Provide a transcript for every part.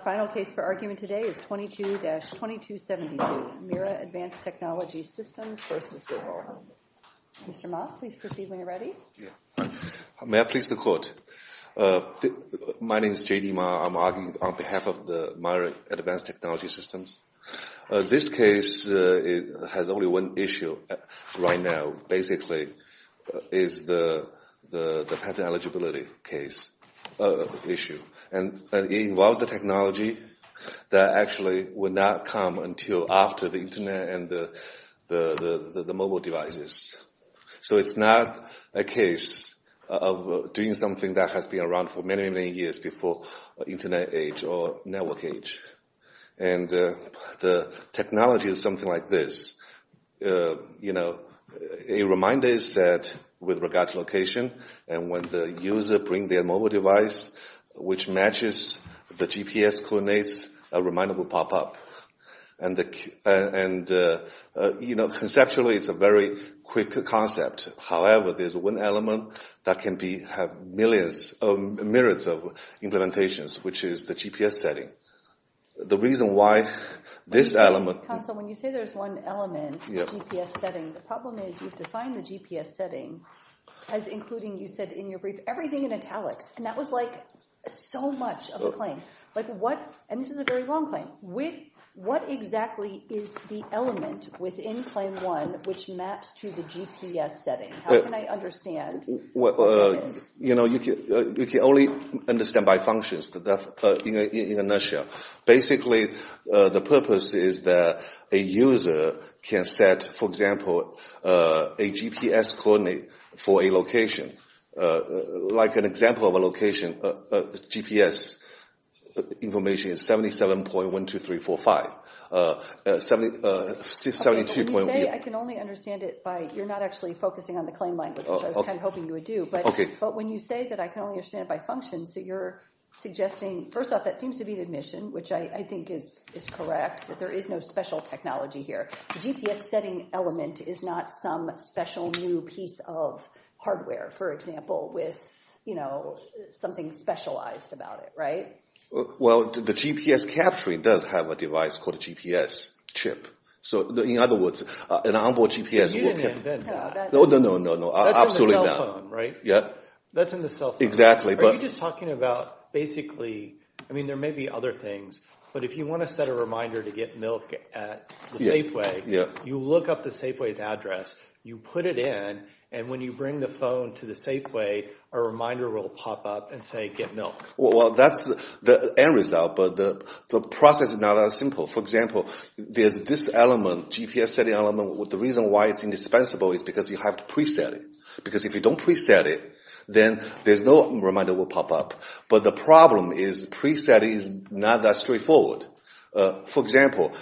Our final case for argument today is 22-2272, MIRA Advanced Technology Systems v. Google. Mr. Ma, please proceed when you're ready. May I please the court? My name is JD Ma. I'm arguing on behalf of the MIRA Advanced Technology Systems. This case has only one issue right now. Basically, it's the patent eligibility issue. And it involves a technology that actually would not come until after the Internet and the mobile devices. So it's not a case of doing something that has been around for many, many years before Internet age or network age. And the technology is something like this. A reminder is set with regard to location. And when the user brings their mobile device, which matches the GPS coordinates, a reminder will pop up. And conceptually, it's a very quick concept. However, there's one element that can have millions or myriads of implementations, which is the GPS setting. The reason why this element... Counsel, when you say there's one element, the GPS setting, the problem is you've defined the GPS setting as including, you said in your brief, everything in italics. And that was like so much of the claim. And this is a very long claim. What exactly is the element within Claim 1 which maps to the GPS setting? How can I understand? You can only understand by functions in a nutshell. Basically, the purpose is that a user can set, for example, a GPS coordinate for a location. Like an example of a location, GPS information is 77.12345. Okay, but when you say I can only understand it by... You're not actually focusing on the claim language, which I was kind of hoping you would do. But when you say that I can only understand it by functions, so you're suggesting... First off, that seems to be the admission, which I think is correct, that there is no special technology here. The GPS setting element is not some special new piece of hardware, for example, with something specialized about it, right? Well, the GPS capturing does have a device called a GPS chip. So in other words, an on-board GPS... But you didn't invent that. No, no, no, no. That's in the cell phone, right? Yeah. That's in the cell phone. Exactly. Are you just talking about basically... I mean, there may be other things, but if you want to set a reminder to get milk at the Safeway, you look up the Safeway's address, you put it in, and when you bring the phone to the Safeway, a reminder will pop up and say, get milk. Well, that's the end result, but the process is not as simple. For example, there's this element, GPS setting element. The reason why it's indispensable is because you have to pre-set it, because if you don't pre-set it, then there's no reminder will pop up. But the problem is pre-setting is not that straightforward. For example,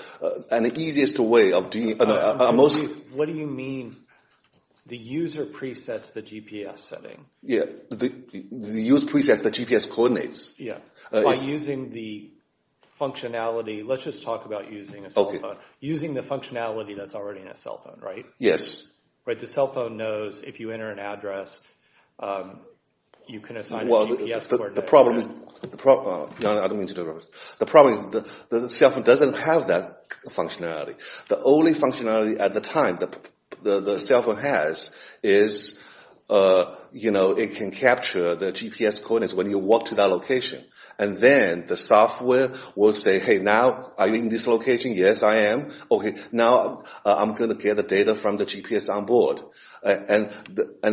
an easiest way of... What do you mean the user pre-sets the GPS setting? Yeah. The user pre-sets the GPS coordinates. Yeah. By using the functionality. Let's just talk about using a cell phone. Okay. Using the functionality that's already in a cell phone, right? Yes. The cell phone knows if you enter an address, you can assign a GPS coordinate. Well, the problem is... I don't mean to interrupt. The problem is the cell phone doesn't have that functionality. The only functionality at the time the cell phone has is it can capture the GPS coordinates when you walk to that location. And then the software will say, hey, now are you in this location? Yes, I am. Okay, now I'm going to get the data from the GPS on board. And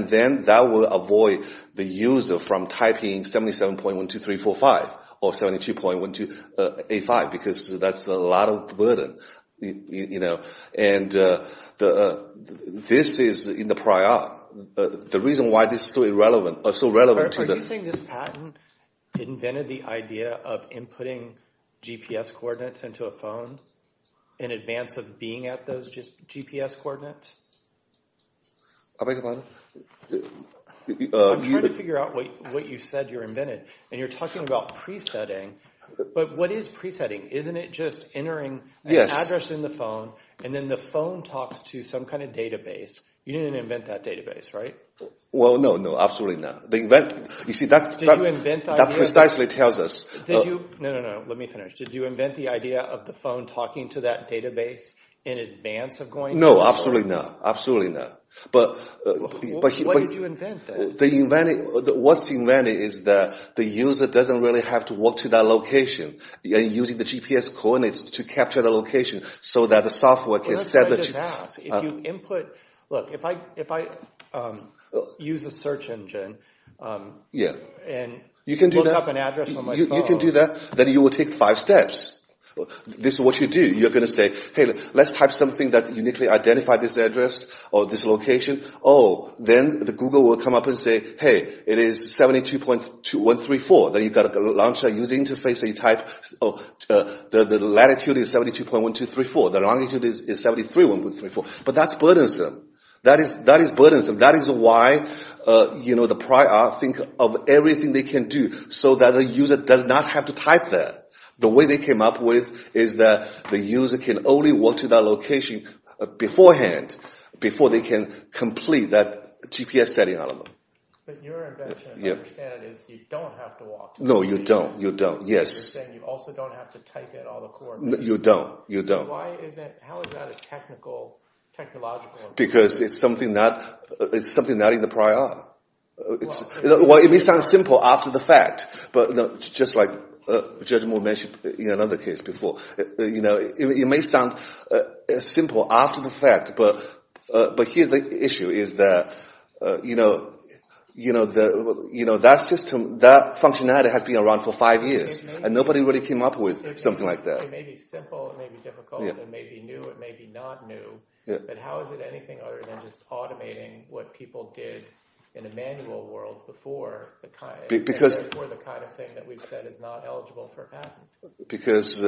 then that will avoid the user from typing 77.12345 or 72.1285 because that's a lot of burden. And this is in the prior. The reason why this is so relevant to the... Are you saying this patent invented the idea of inputting GPS coordinates into a phone in advance of being at those GPS coordinates? I beg your pardon? I'm trying to figure out what you said you invented. And you're talking about pre-setting. But what is pre-setting? Isn't it just entering an address in the phone and then the phone talks to some kind of database? You didn't invent that database, right? Well, no, no. Absolutely not. You see, that precisely tells us... Did you? No, no, no. Let me finish. Did you invent the idea of the phone talking to that database in advance of going... No, absolutely not. Absolutely not. But... What did you invent then? What's invented is that the user doesn't really have to walk to that location. Using the GPS coordinates to capture the location so that the software can set the... That's what I just asked. If you input... Look, if I use the search engine and look up an address on my phone... You can do that. Then you will take five steps. This is what you do. You're going to say, hey, let's type something that uniquely identifies this address or this location. Oh, then the Google will come up and say, hey, it is 72.134. Then you've got to launch a user interface that you type. The latitude is 72.1234. The longitude is 73.134. But that's burdensome. That is burdensome. That is why the prior think of everything they can do so that the user does not have to type there. The way they came up with is that the user can only walk to that location beforehand, before they can complete that GPS setting algorithm. But your invention, I understand it, is you don't have to walk to that location. No, you don't. You're saying you also don't have to type in all the coordinates. You don't. How is that a technological improvement? Because it's something not in the prior. It may sound simple after the fact. Just like Judge Moore mentioned in another case before, it may sound simple after the fact, but here the issue is that that system, that functionality has been around for five years, and nobody really came up with something like that. It may be simple. It may be difficult. It may be new. It may be not new. But how is it anything other than just automating what people did in a manual world before the kind of thing that we've said is not eligible for patent? Because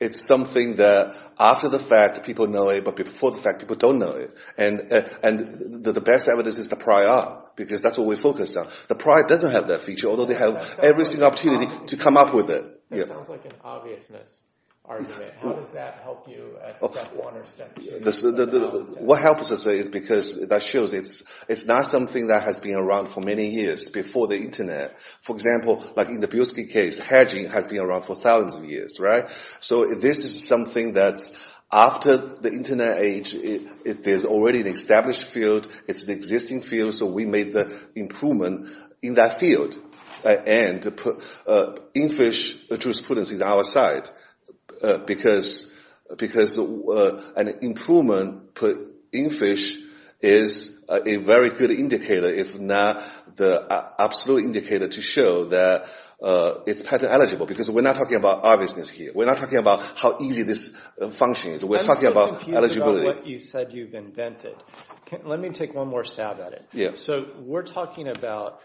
it's something that after the fact people know it, but before the fact people don't know it. And the best evidence is the prior, because that's what we focus on. The prior doesn't have that feature, although they have every single opportunity to come up with it. That sounds like an obviousness argument. How does that help you at step one or step two? What helps us is because that shows it's not something that has been around for many years before the Internet. For example, like in the Bilski case, hedging has been around for thousands of years. So this is something that's after the Internet age, there's already an established field, it's an existing field, so we made the improvement in that field. And infish jurisprudence is our side, because an improvement put in fish is a very good indicator, if not the absolute indicator to show that it's patent eligible, because we're not talking about obviousness here. We're not talking about how easy this function is. We're talking about eligibility. I'm still confused about what you said you've invented. Let me take one more stab at it. We're talking about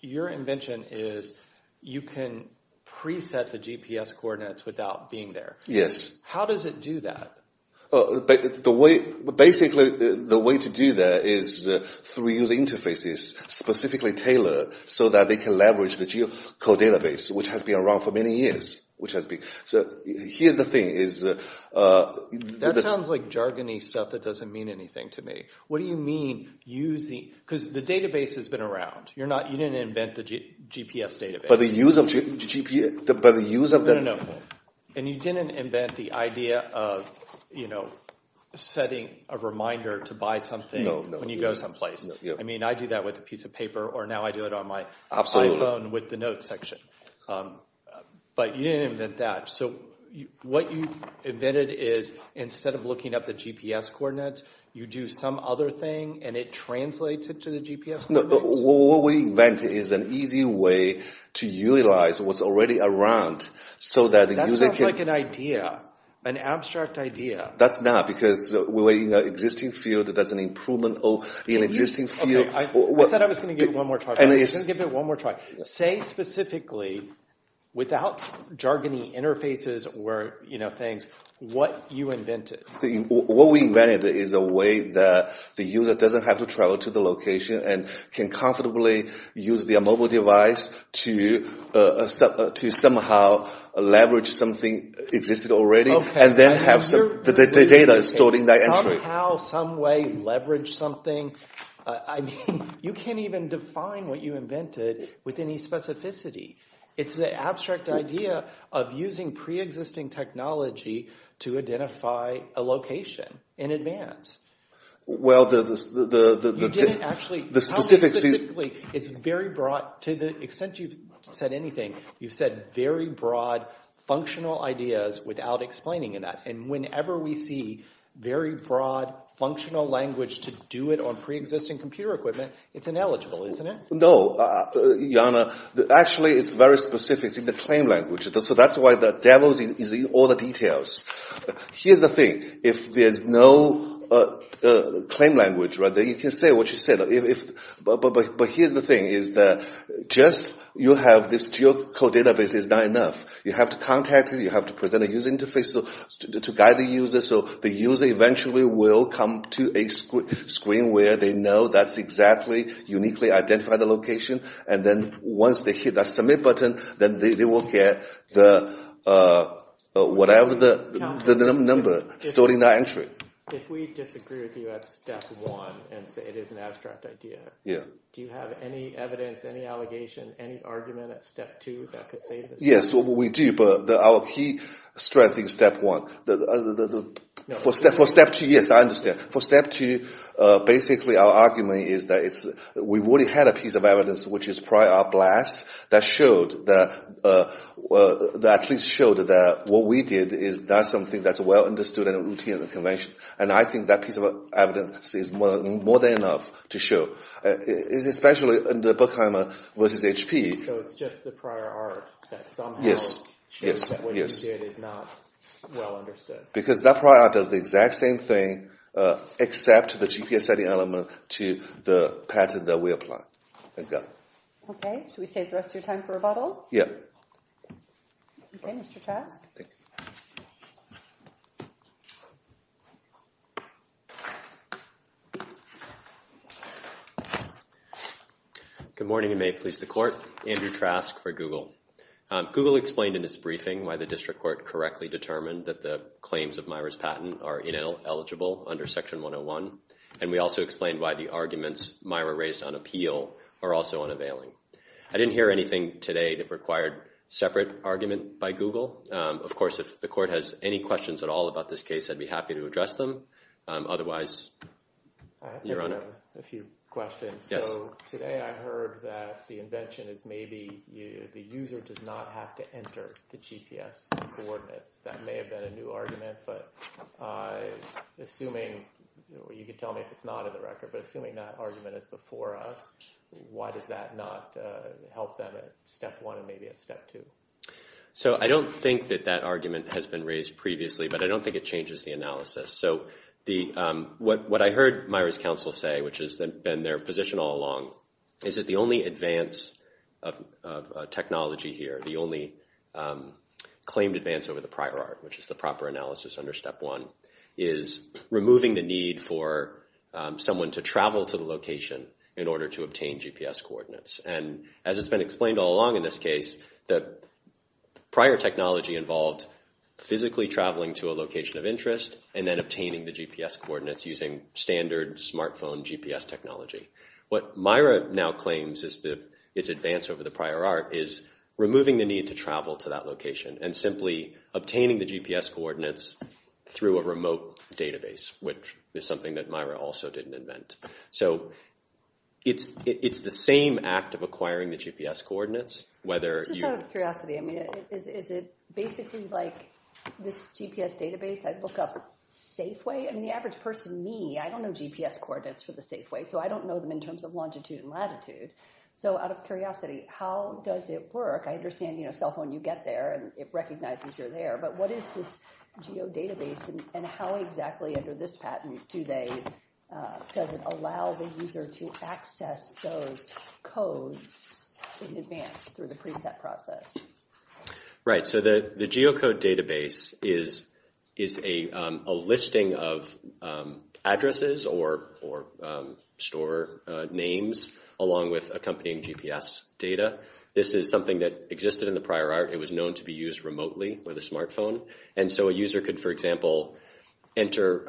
your invention is you can preset the GPS coordinates without being there. Yes. How does it do that? Basically, the way to do that is through user interfaces, specifically tailored so that they can leverage the geocode database, which has been around for many years. That sounds like jargony stuff that doesn't mean anything to me. Because the database has been around. You didn't invent the GPS database. And you didn't invent the idea of setting a reminder to buy something when you go someplace. I mean, I do that with a piece of paper, or now I do it on my iPhone with the notes section. But you didn't invent that. So what you invented is instead of looking up the GPS coordinates, you do some other thing, and it translates it to the GPS coordinates? No, what we invented is an easy way to utilize what's already around so that the user can… That sounds like an idea, an abstract idea. That's not, because we're in an existing field. That's an improvement in an existing field. I said I was going to give it one more try. I'm going to give it one more try. Say specifically, without jargony interfaces or things, what you invented. What we invented is a way that the user doesn't have to travel to the location and can comfortably use their mobile device to somehow leverage something existing already and then have the data stored in that entry. Somehow, some way, leverage something. I mean, you can't even define what you invented with any specificity. It's the abstract idea of using preexisting technology to identify a location in advance. Well, the… You didn't actually… The specifics… It's very broad. To the extent you've said anything, you've said very broad, functional ideas without explaining that. And whenever we see very broad, functional language to do it on preexisting computer equipment, it's ineligible, isn't it? No, Jana. Actually, it's very specific. It's in the claim language. So that's why the devil is in all the details. Here's the thing. If there's no claim language right there, you can say what you said. But here's the thing is that just you have this geocode database is not enough. You have to contact it. You have to present a user interface to guide the user so the user eventually will come to a screen where they know that's exactly uniquely identified the location. And then once they hit that submit button, then they will get whatever the number stored in that entry. If we disagree with you at step one and say it is an abstract idea, do you have any evidence, any allegation, any argument at step two that could save us? Yes, we do. But our key strength is step one. For step two, yes, I understand. For step two, basically our argument is that we already had a piece of evidence which is prior blast that at least showed that what we did is not something that's well understood in a routine convention. And I think that piece of evidence is more than enough to show, especially in the Buckheimer versus HP. So it's just the prior art that somehow shows that what you did is not well understood. Because that prior art does the exact same thing except the GPS setting element to the pattern that we applied. Thank you. Okay. Should we save the rest of your time for rebuttal? Yes. Okay, Mr. Trask. Thank you. Good morning and may it please the Court. Andrew Trask for Google. Google explained in its briefing why the district court correctly determined that the claims of Myra's patent are ineligible under Section 101. And we also explained why the arguments Myra raised on appeal are also unavailing. I didn't hear anything today that required separate argument by Google. Of course, if the Court has any questions at all about this case, I'd be happy to address them. Otherwise, Your Honor. I have a few questions. So today I heard that the invention is maybe the user does not have to enter the GPS coordinates. That may have been a new argument, but assuming you can tell me if it's not in the record, but assuming that argument is before us, why does that not help them at step one and maybe at step two? So I don't think that that argument has been raised previously, but I don't think it changes the analysis. So what I heard Myra's counsel say, which has been their position all along, is that the only advance of technology here, the only claimed advance over the prior art, which is the proper analysis under step one, is removing the need for someone to travel to the location in order to obtain GPS coordinates. And as it's been explained all along in this case, the prior technology involved physically traveling to a location of interest and then obtaining the GPS coordinates using standard smartphone GPS technology. What Myra now claims is that its advance over the prior art is removing the need to travel to that location and simply obtaining the GPS coordinates through a remote database, which is something that Myra also didn't invent. So it's the same act of acquiring the GPS coordinates, whether you- Just out of curiosity, I mean, is it basically like this GPS database I look up Safeway? I mean, the average person, me, I don't know GPS coordinates for the Safeway, so I don't know them in terms of longitude and latitude. So out of curiosity, how does it work? I understand, you know, cell phone, you get there and it recognizes you're there, but what is this geodatabase and how exactly under this patent do they- does it allow the user to access those codes in advance through the preset process? Right, so the geocode database is a listing of addresses or store names along with accompanying GPS data. This is something that existed in the prior art. It was known to be used remotely with a smartphone. And so a user could, for example, enter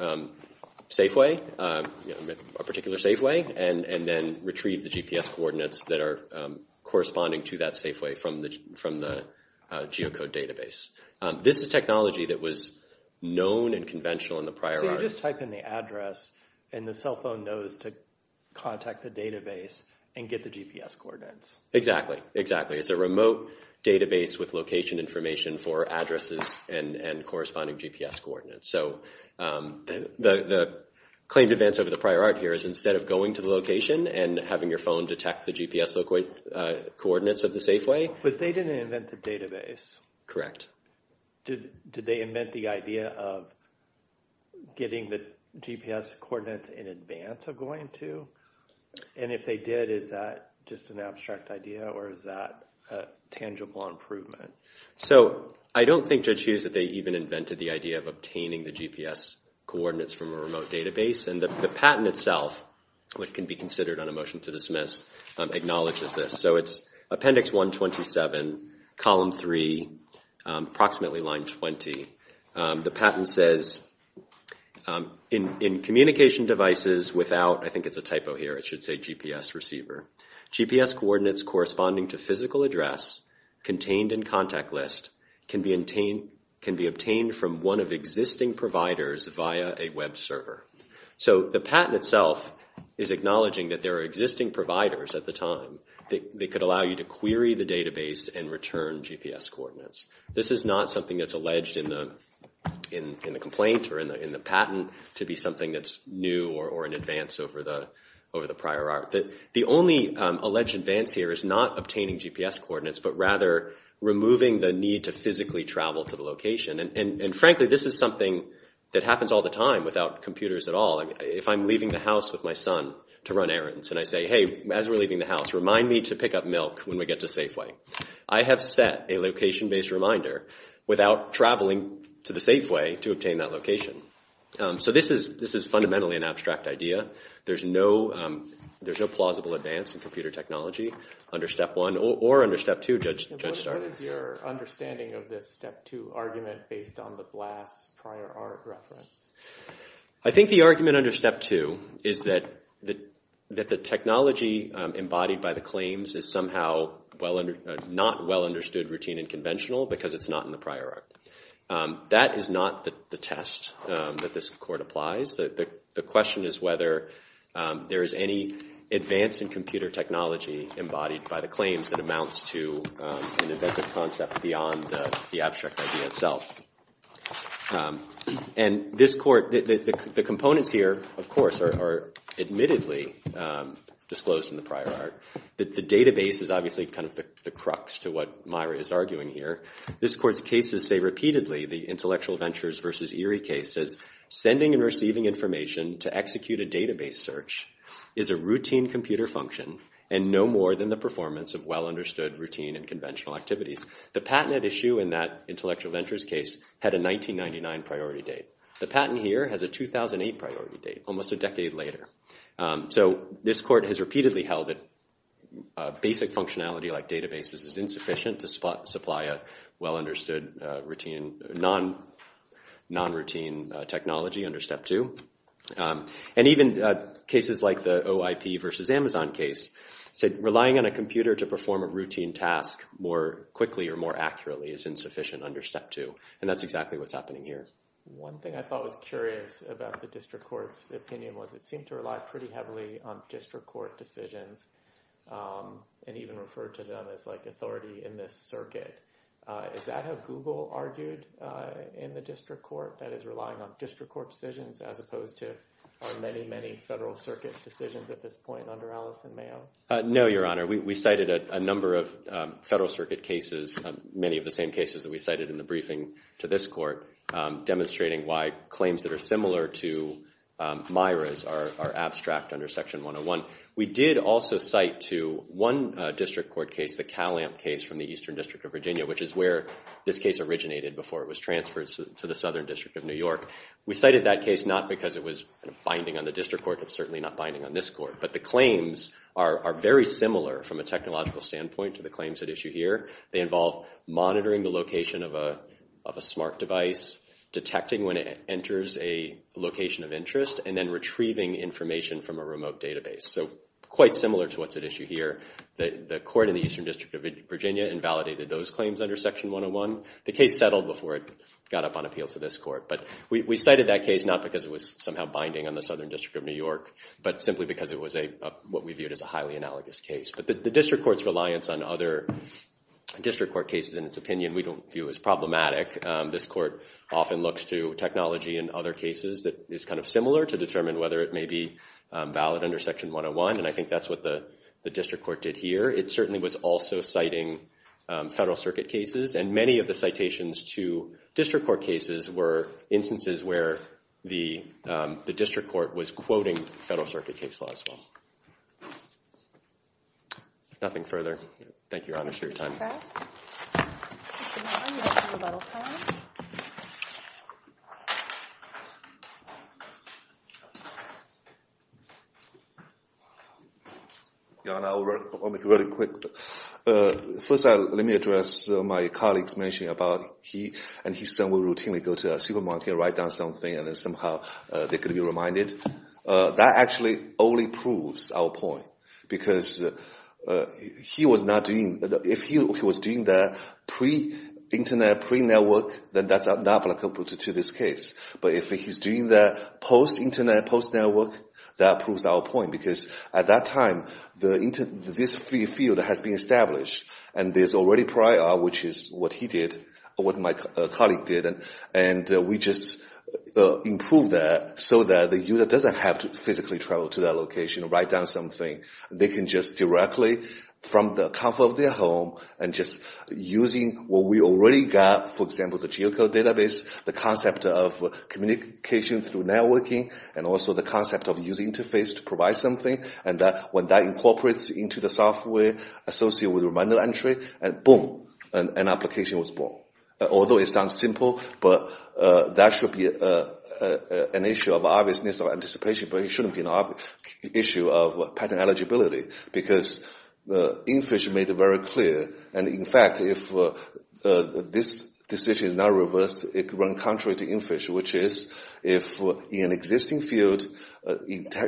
Safeway, a particular Safeway, and then retrieve the GPS coordinates that are corresponding to that Safeway from the geocode database. This is technology that was known and conventional in the prior art. So you just type in the address and the cell phone knows to contact the database and get the GPS coordinates. Exactly, exactly. It's a remote database with location information for addresses and corresponding GPS coordinates. So the claim to advance over the prior art here is instead of going to the location and having your phone detect the GPS coordinates of the Safeway- But they didn't invent the database. Correct. Did they invent the idea of getting the GPS coordinates in advance of going to? And if they did, is that just an abstract idea or is that a tangible improvement? So I don't think Judge Hughes that they even invented the idea of obtaining the GPS coordinates from a remote database. And the patent itself, which can be considered on a motion to dismiss, acknowledges this. So it's Appendix 127, Column 3, approximately line 20. The patent says, in communication devices without- I think it's a typo here, it should say GPS receiver- GPS coordinates corresponding to physical address contained in contact list can be obtained from one of existing providers via a web server. So the patent itself is acknowledging that there are existing providers at the time that could allow you to query the database and return GPS coordinates. This is not something that's alleged in the complaint or in the patent to be something that's new or in advance over the prior art. The only alleged advance here is not obtaining GPS coordinates, but rather removing the need to physically travel to the location. And frankly, this is something that happens all the time without computers at all. If I'm leaving the house with my son to run errands and I say, hey, as we're leaving the house, remind me to pick up milk when we get to Safeway. I have set a location-based reminder without traveling to the Safeway to obtain that location. So this is fundamentally an abstract idea. There's no plausible advance in computer technology under Step 1 or under Step 2, Judge Stardust. What is your understanding of this Step 2 argument based on the BLAST prior art reference? I think the argument under Step 2 is that the technology embodied by the claims is somehow not well understood, routine, and conventional because it's not in the prior art. That is not the test that this court applies. The question is whether there is any advance in computer technology embodied by the claims that amounts to an inventive concept beyond the abstract idea itself. And the components here, of course, are admittedly disclosed in the prior art. The database is obviously kind of the crux to what Myra is arguing here. This court's cases say repeatedly, the Intellectual Ventures versus Erie case says, sending and receiving information to execute a database search is a routine computer function and no more than the performance of well-understood routine and conventional activities. The patented issue in that Intellectual Ventures case had a 1999 priority date. The patent here has a 2008 priority date, almost a decade later. So this court has repeatedly held that basic functionality like databases is insufficient to supply a well-understood non-routine technology under Step 2. And even cases like the OIP versus Amazon case said relying on a computer to perform a routine task more quickly or more accurately is insufficient under Step 2. And that's exactly what's happening here. One thing I thought was curious about the district court's opinion was it seemed to rely pretty heavily on district court decisions and even refer to them as like authority in this circuit. Is that how Google argued in the district court? That is relying on district court decisions as opposed to many, many federal circuit decisions at this point under Allison Mayo? No, Your Honor. We cited a number of federal circuit cases, many of the same cases that we cited in the briefing to this court. Demonstrating why claims that are similar to Myra's are abstract under Section 101. We did also cite to one district court case, the Calamp case from the Eastern District of Virginia, which is where this case originated before it was transferred to the Southern District of New York. We cited that case not because it was binding on the district court. It's certainly not binding on this court. But the claims are very similar from a technological standpoint to the claims at issue here. They involve monitoring the location of a smart device, detecting when it enters a location of interest, and then retrieving information from a remote database. So quite similar to what's at issue here. The court in the Eastern District of Virginia invalidated those claims under Section 101. The case settled before it got up on appeal to this court. But we cited that case not because it was somehow binding on the Southern District of New York, but simply because it was what we viewed as a highly analogous case. But the district court's reliance on other district court cases, in its opinion, we don't view as problematic. This court often looks to technology in other cases that is kind of similar to determine whether it may be valid under Section 101. And I think that's what the district court did here. It certainly was also citing Federal Circuit cases. And many of the citations to district court cases were instances where the district court was quoting Federal Circuit case law as well. Nothing further. Thank you, Your Honor, for your time. Your Honor, I'll make it really quick. First, let me address my colleague's mention about he and his son will routinely go to a supermarket, write down something, and then somehow they're going to be reminded. That actually only proves our point. Because if he was doing that pre-Internet, pre-network, then that's not applicable to this case. But if he's doing that post-Internet, post-network, that proves our point. Because at that time, this field has been established. And there's already prior, which is what he did, what my colleague did. And we just improved that so that the user doesn't have to physically travel to that location, write down something. They can just directly from the comfort of their home and just using what we already got, for example, the geocode database, the concept of communication through networking, and also the concept of user interface to provide something. And when that incorporates into the software associated with reminder entry, boom, an application was born. Although it sounds simple, that should be an issue of obviousness or anticipation, but it shouldn't be an issue of patent eligibility. Because Infish made it very clear. And in fact, if this decision is not reversed, it could run contrary to Infish, which is if in an existing field,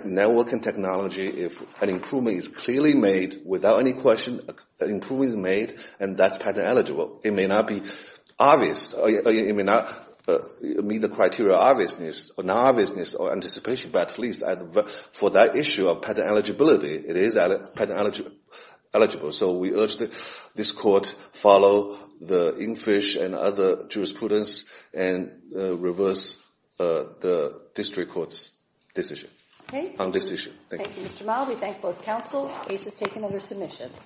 network and technology, if an improvement is clearly made without any question, that improvement is made, and that's patent eligible. It may not be obvious. It may not meet the criteria of obviousness or non-obviousness or anticipation. But at least for that issue of patent eligibility, it is patent eligible. So we urge this court follow the Infish and other jurisprudence and reverse the district court's decision on this issue. Thank you. Thank you, Mr. Mao. We thank both counsel. Case is taken under submission.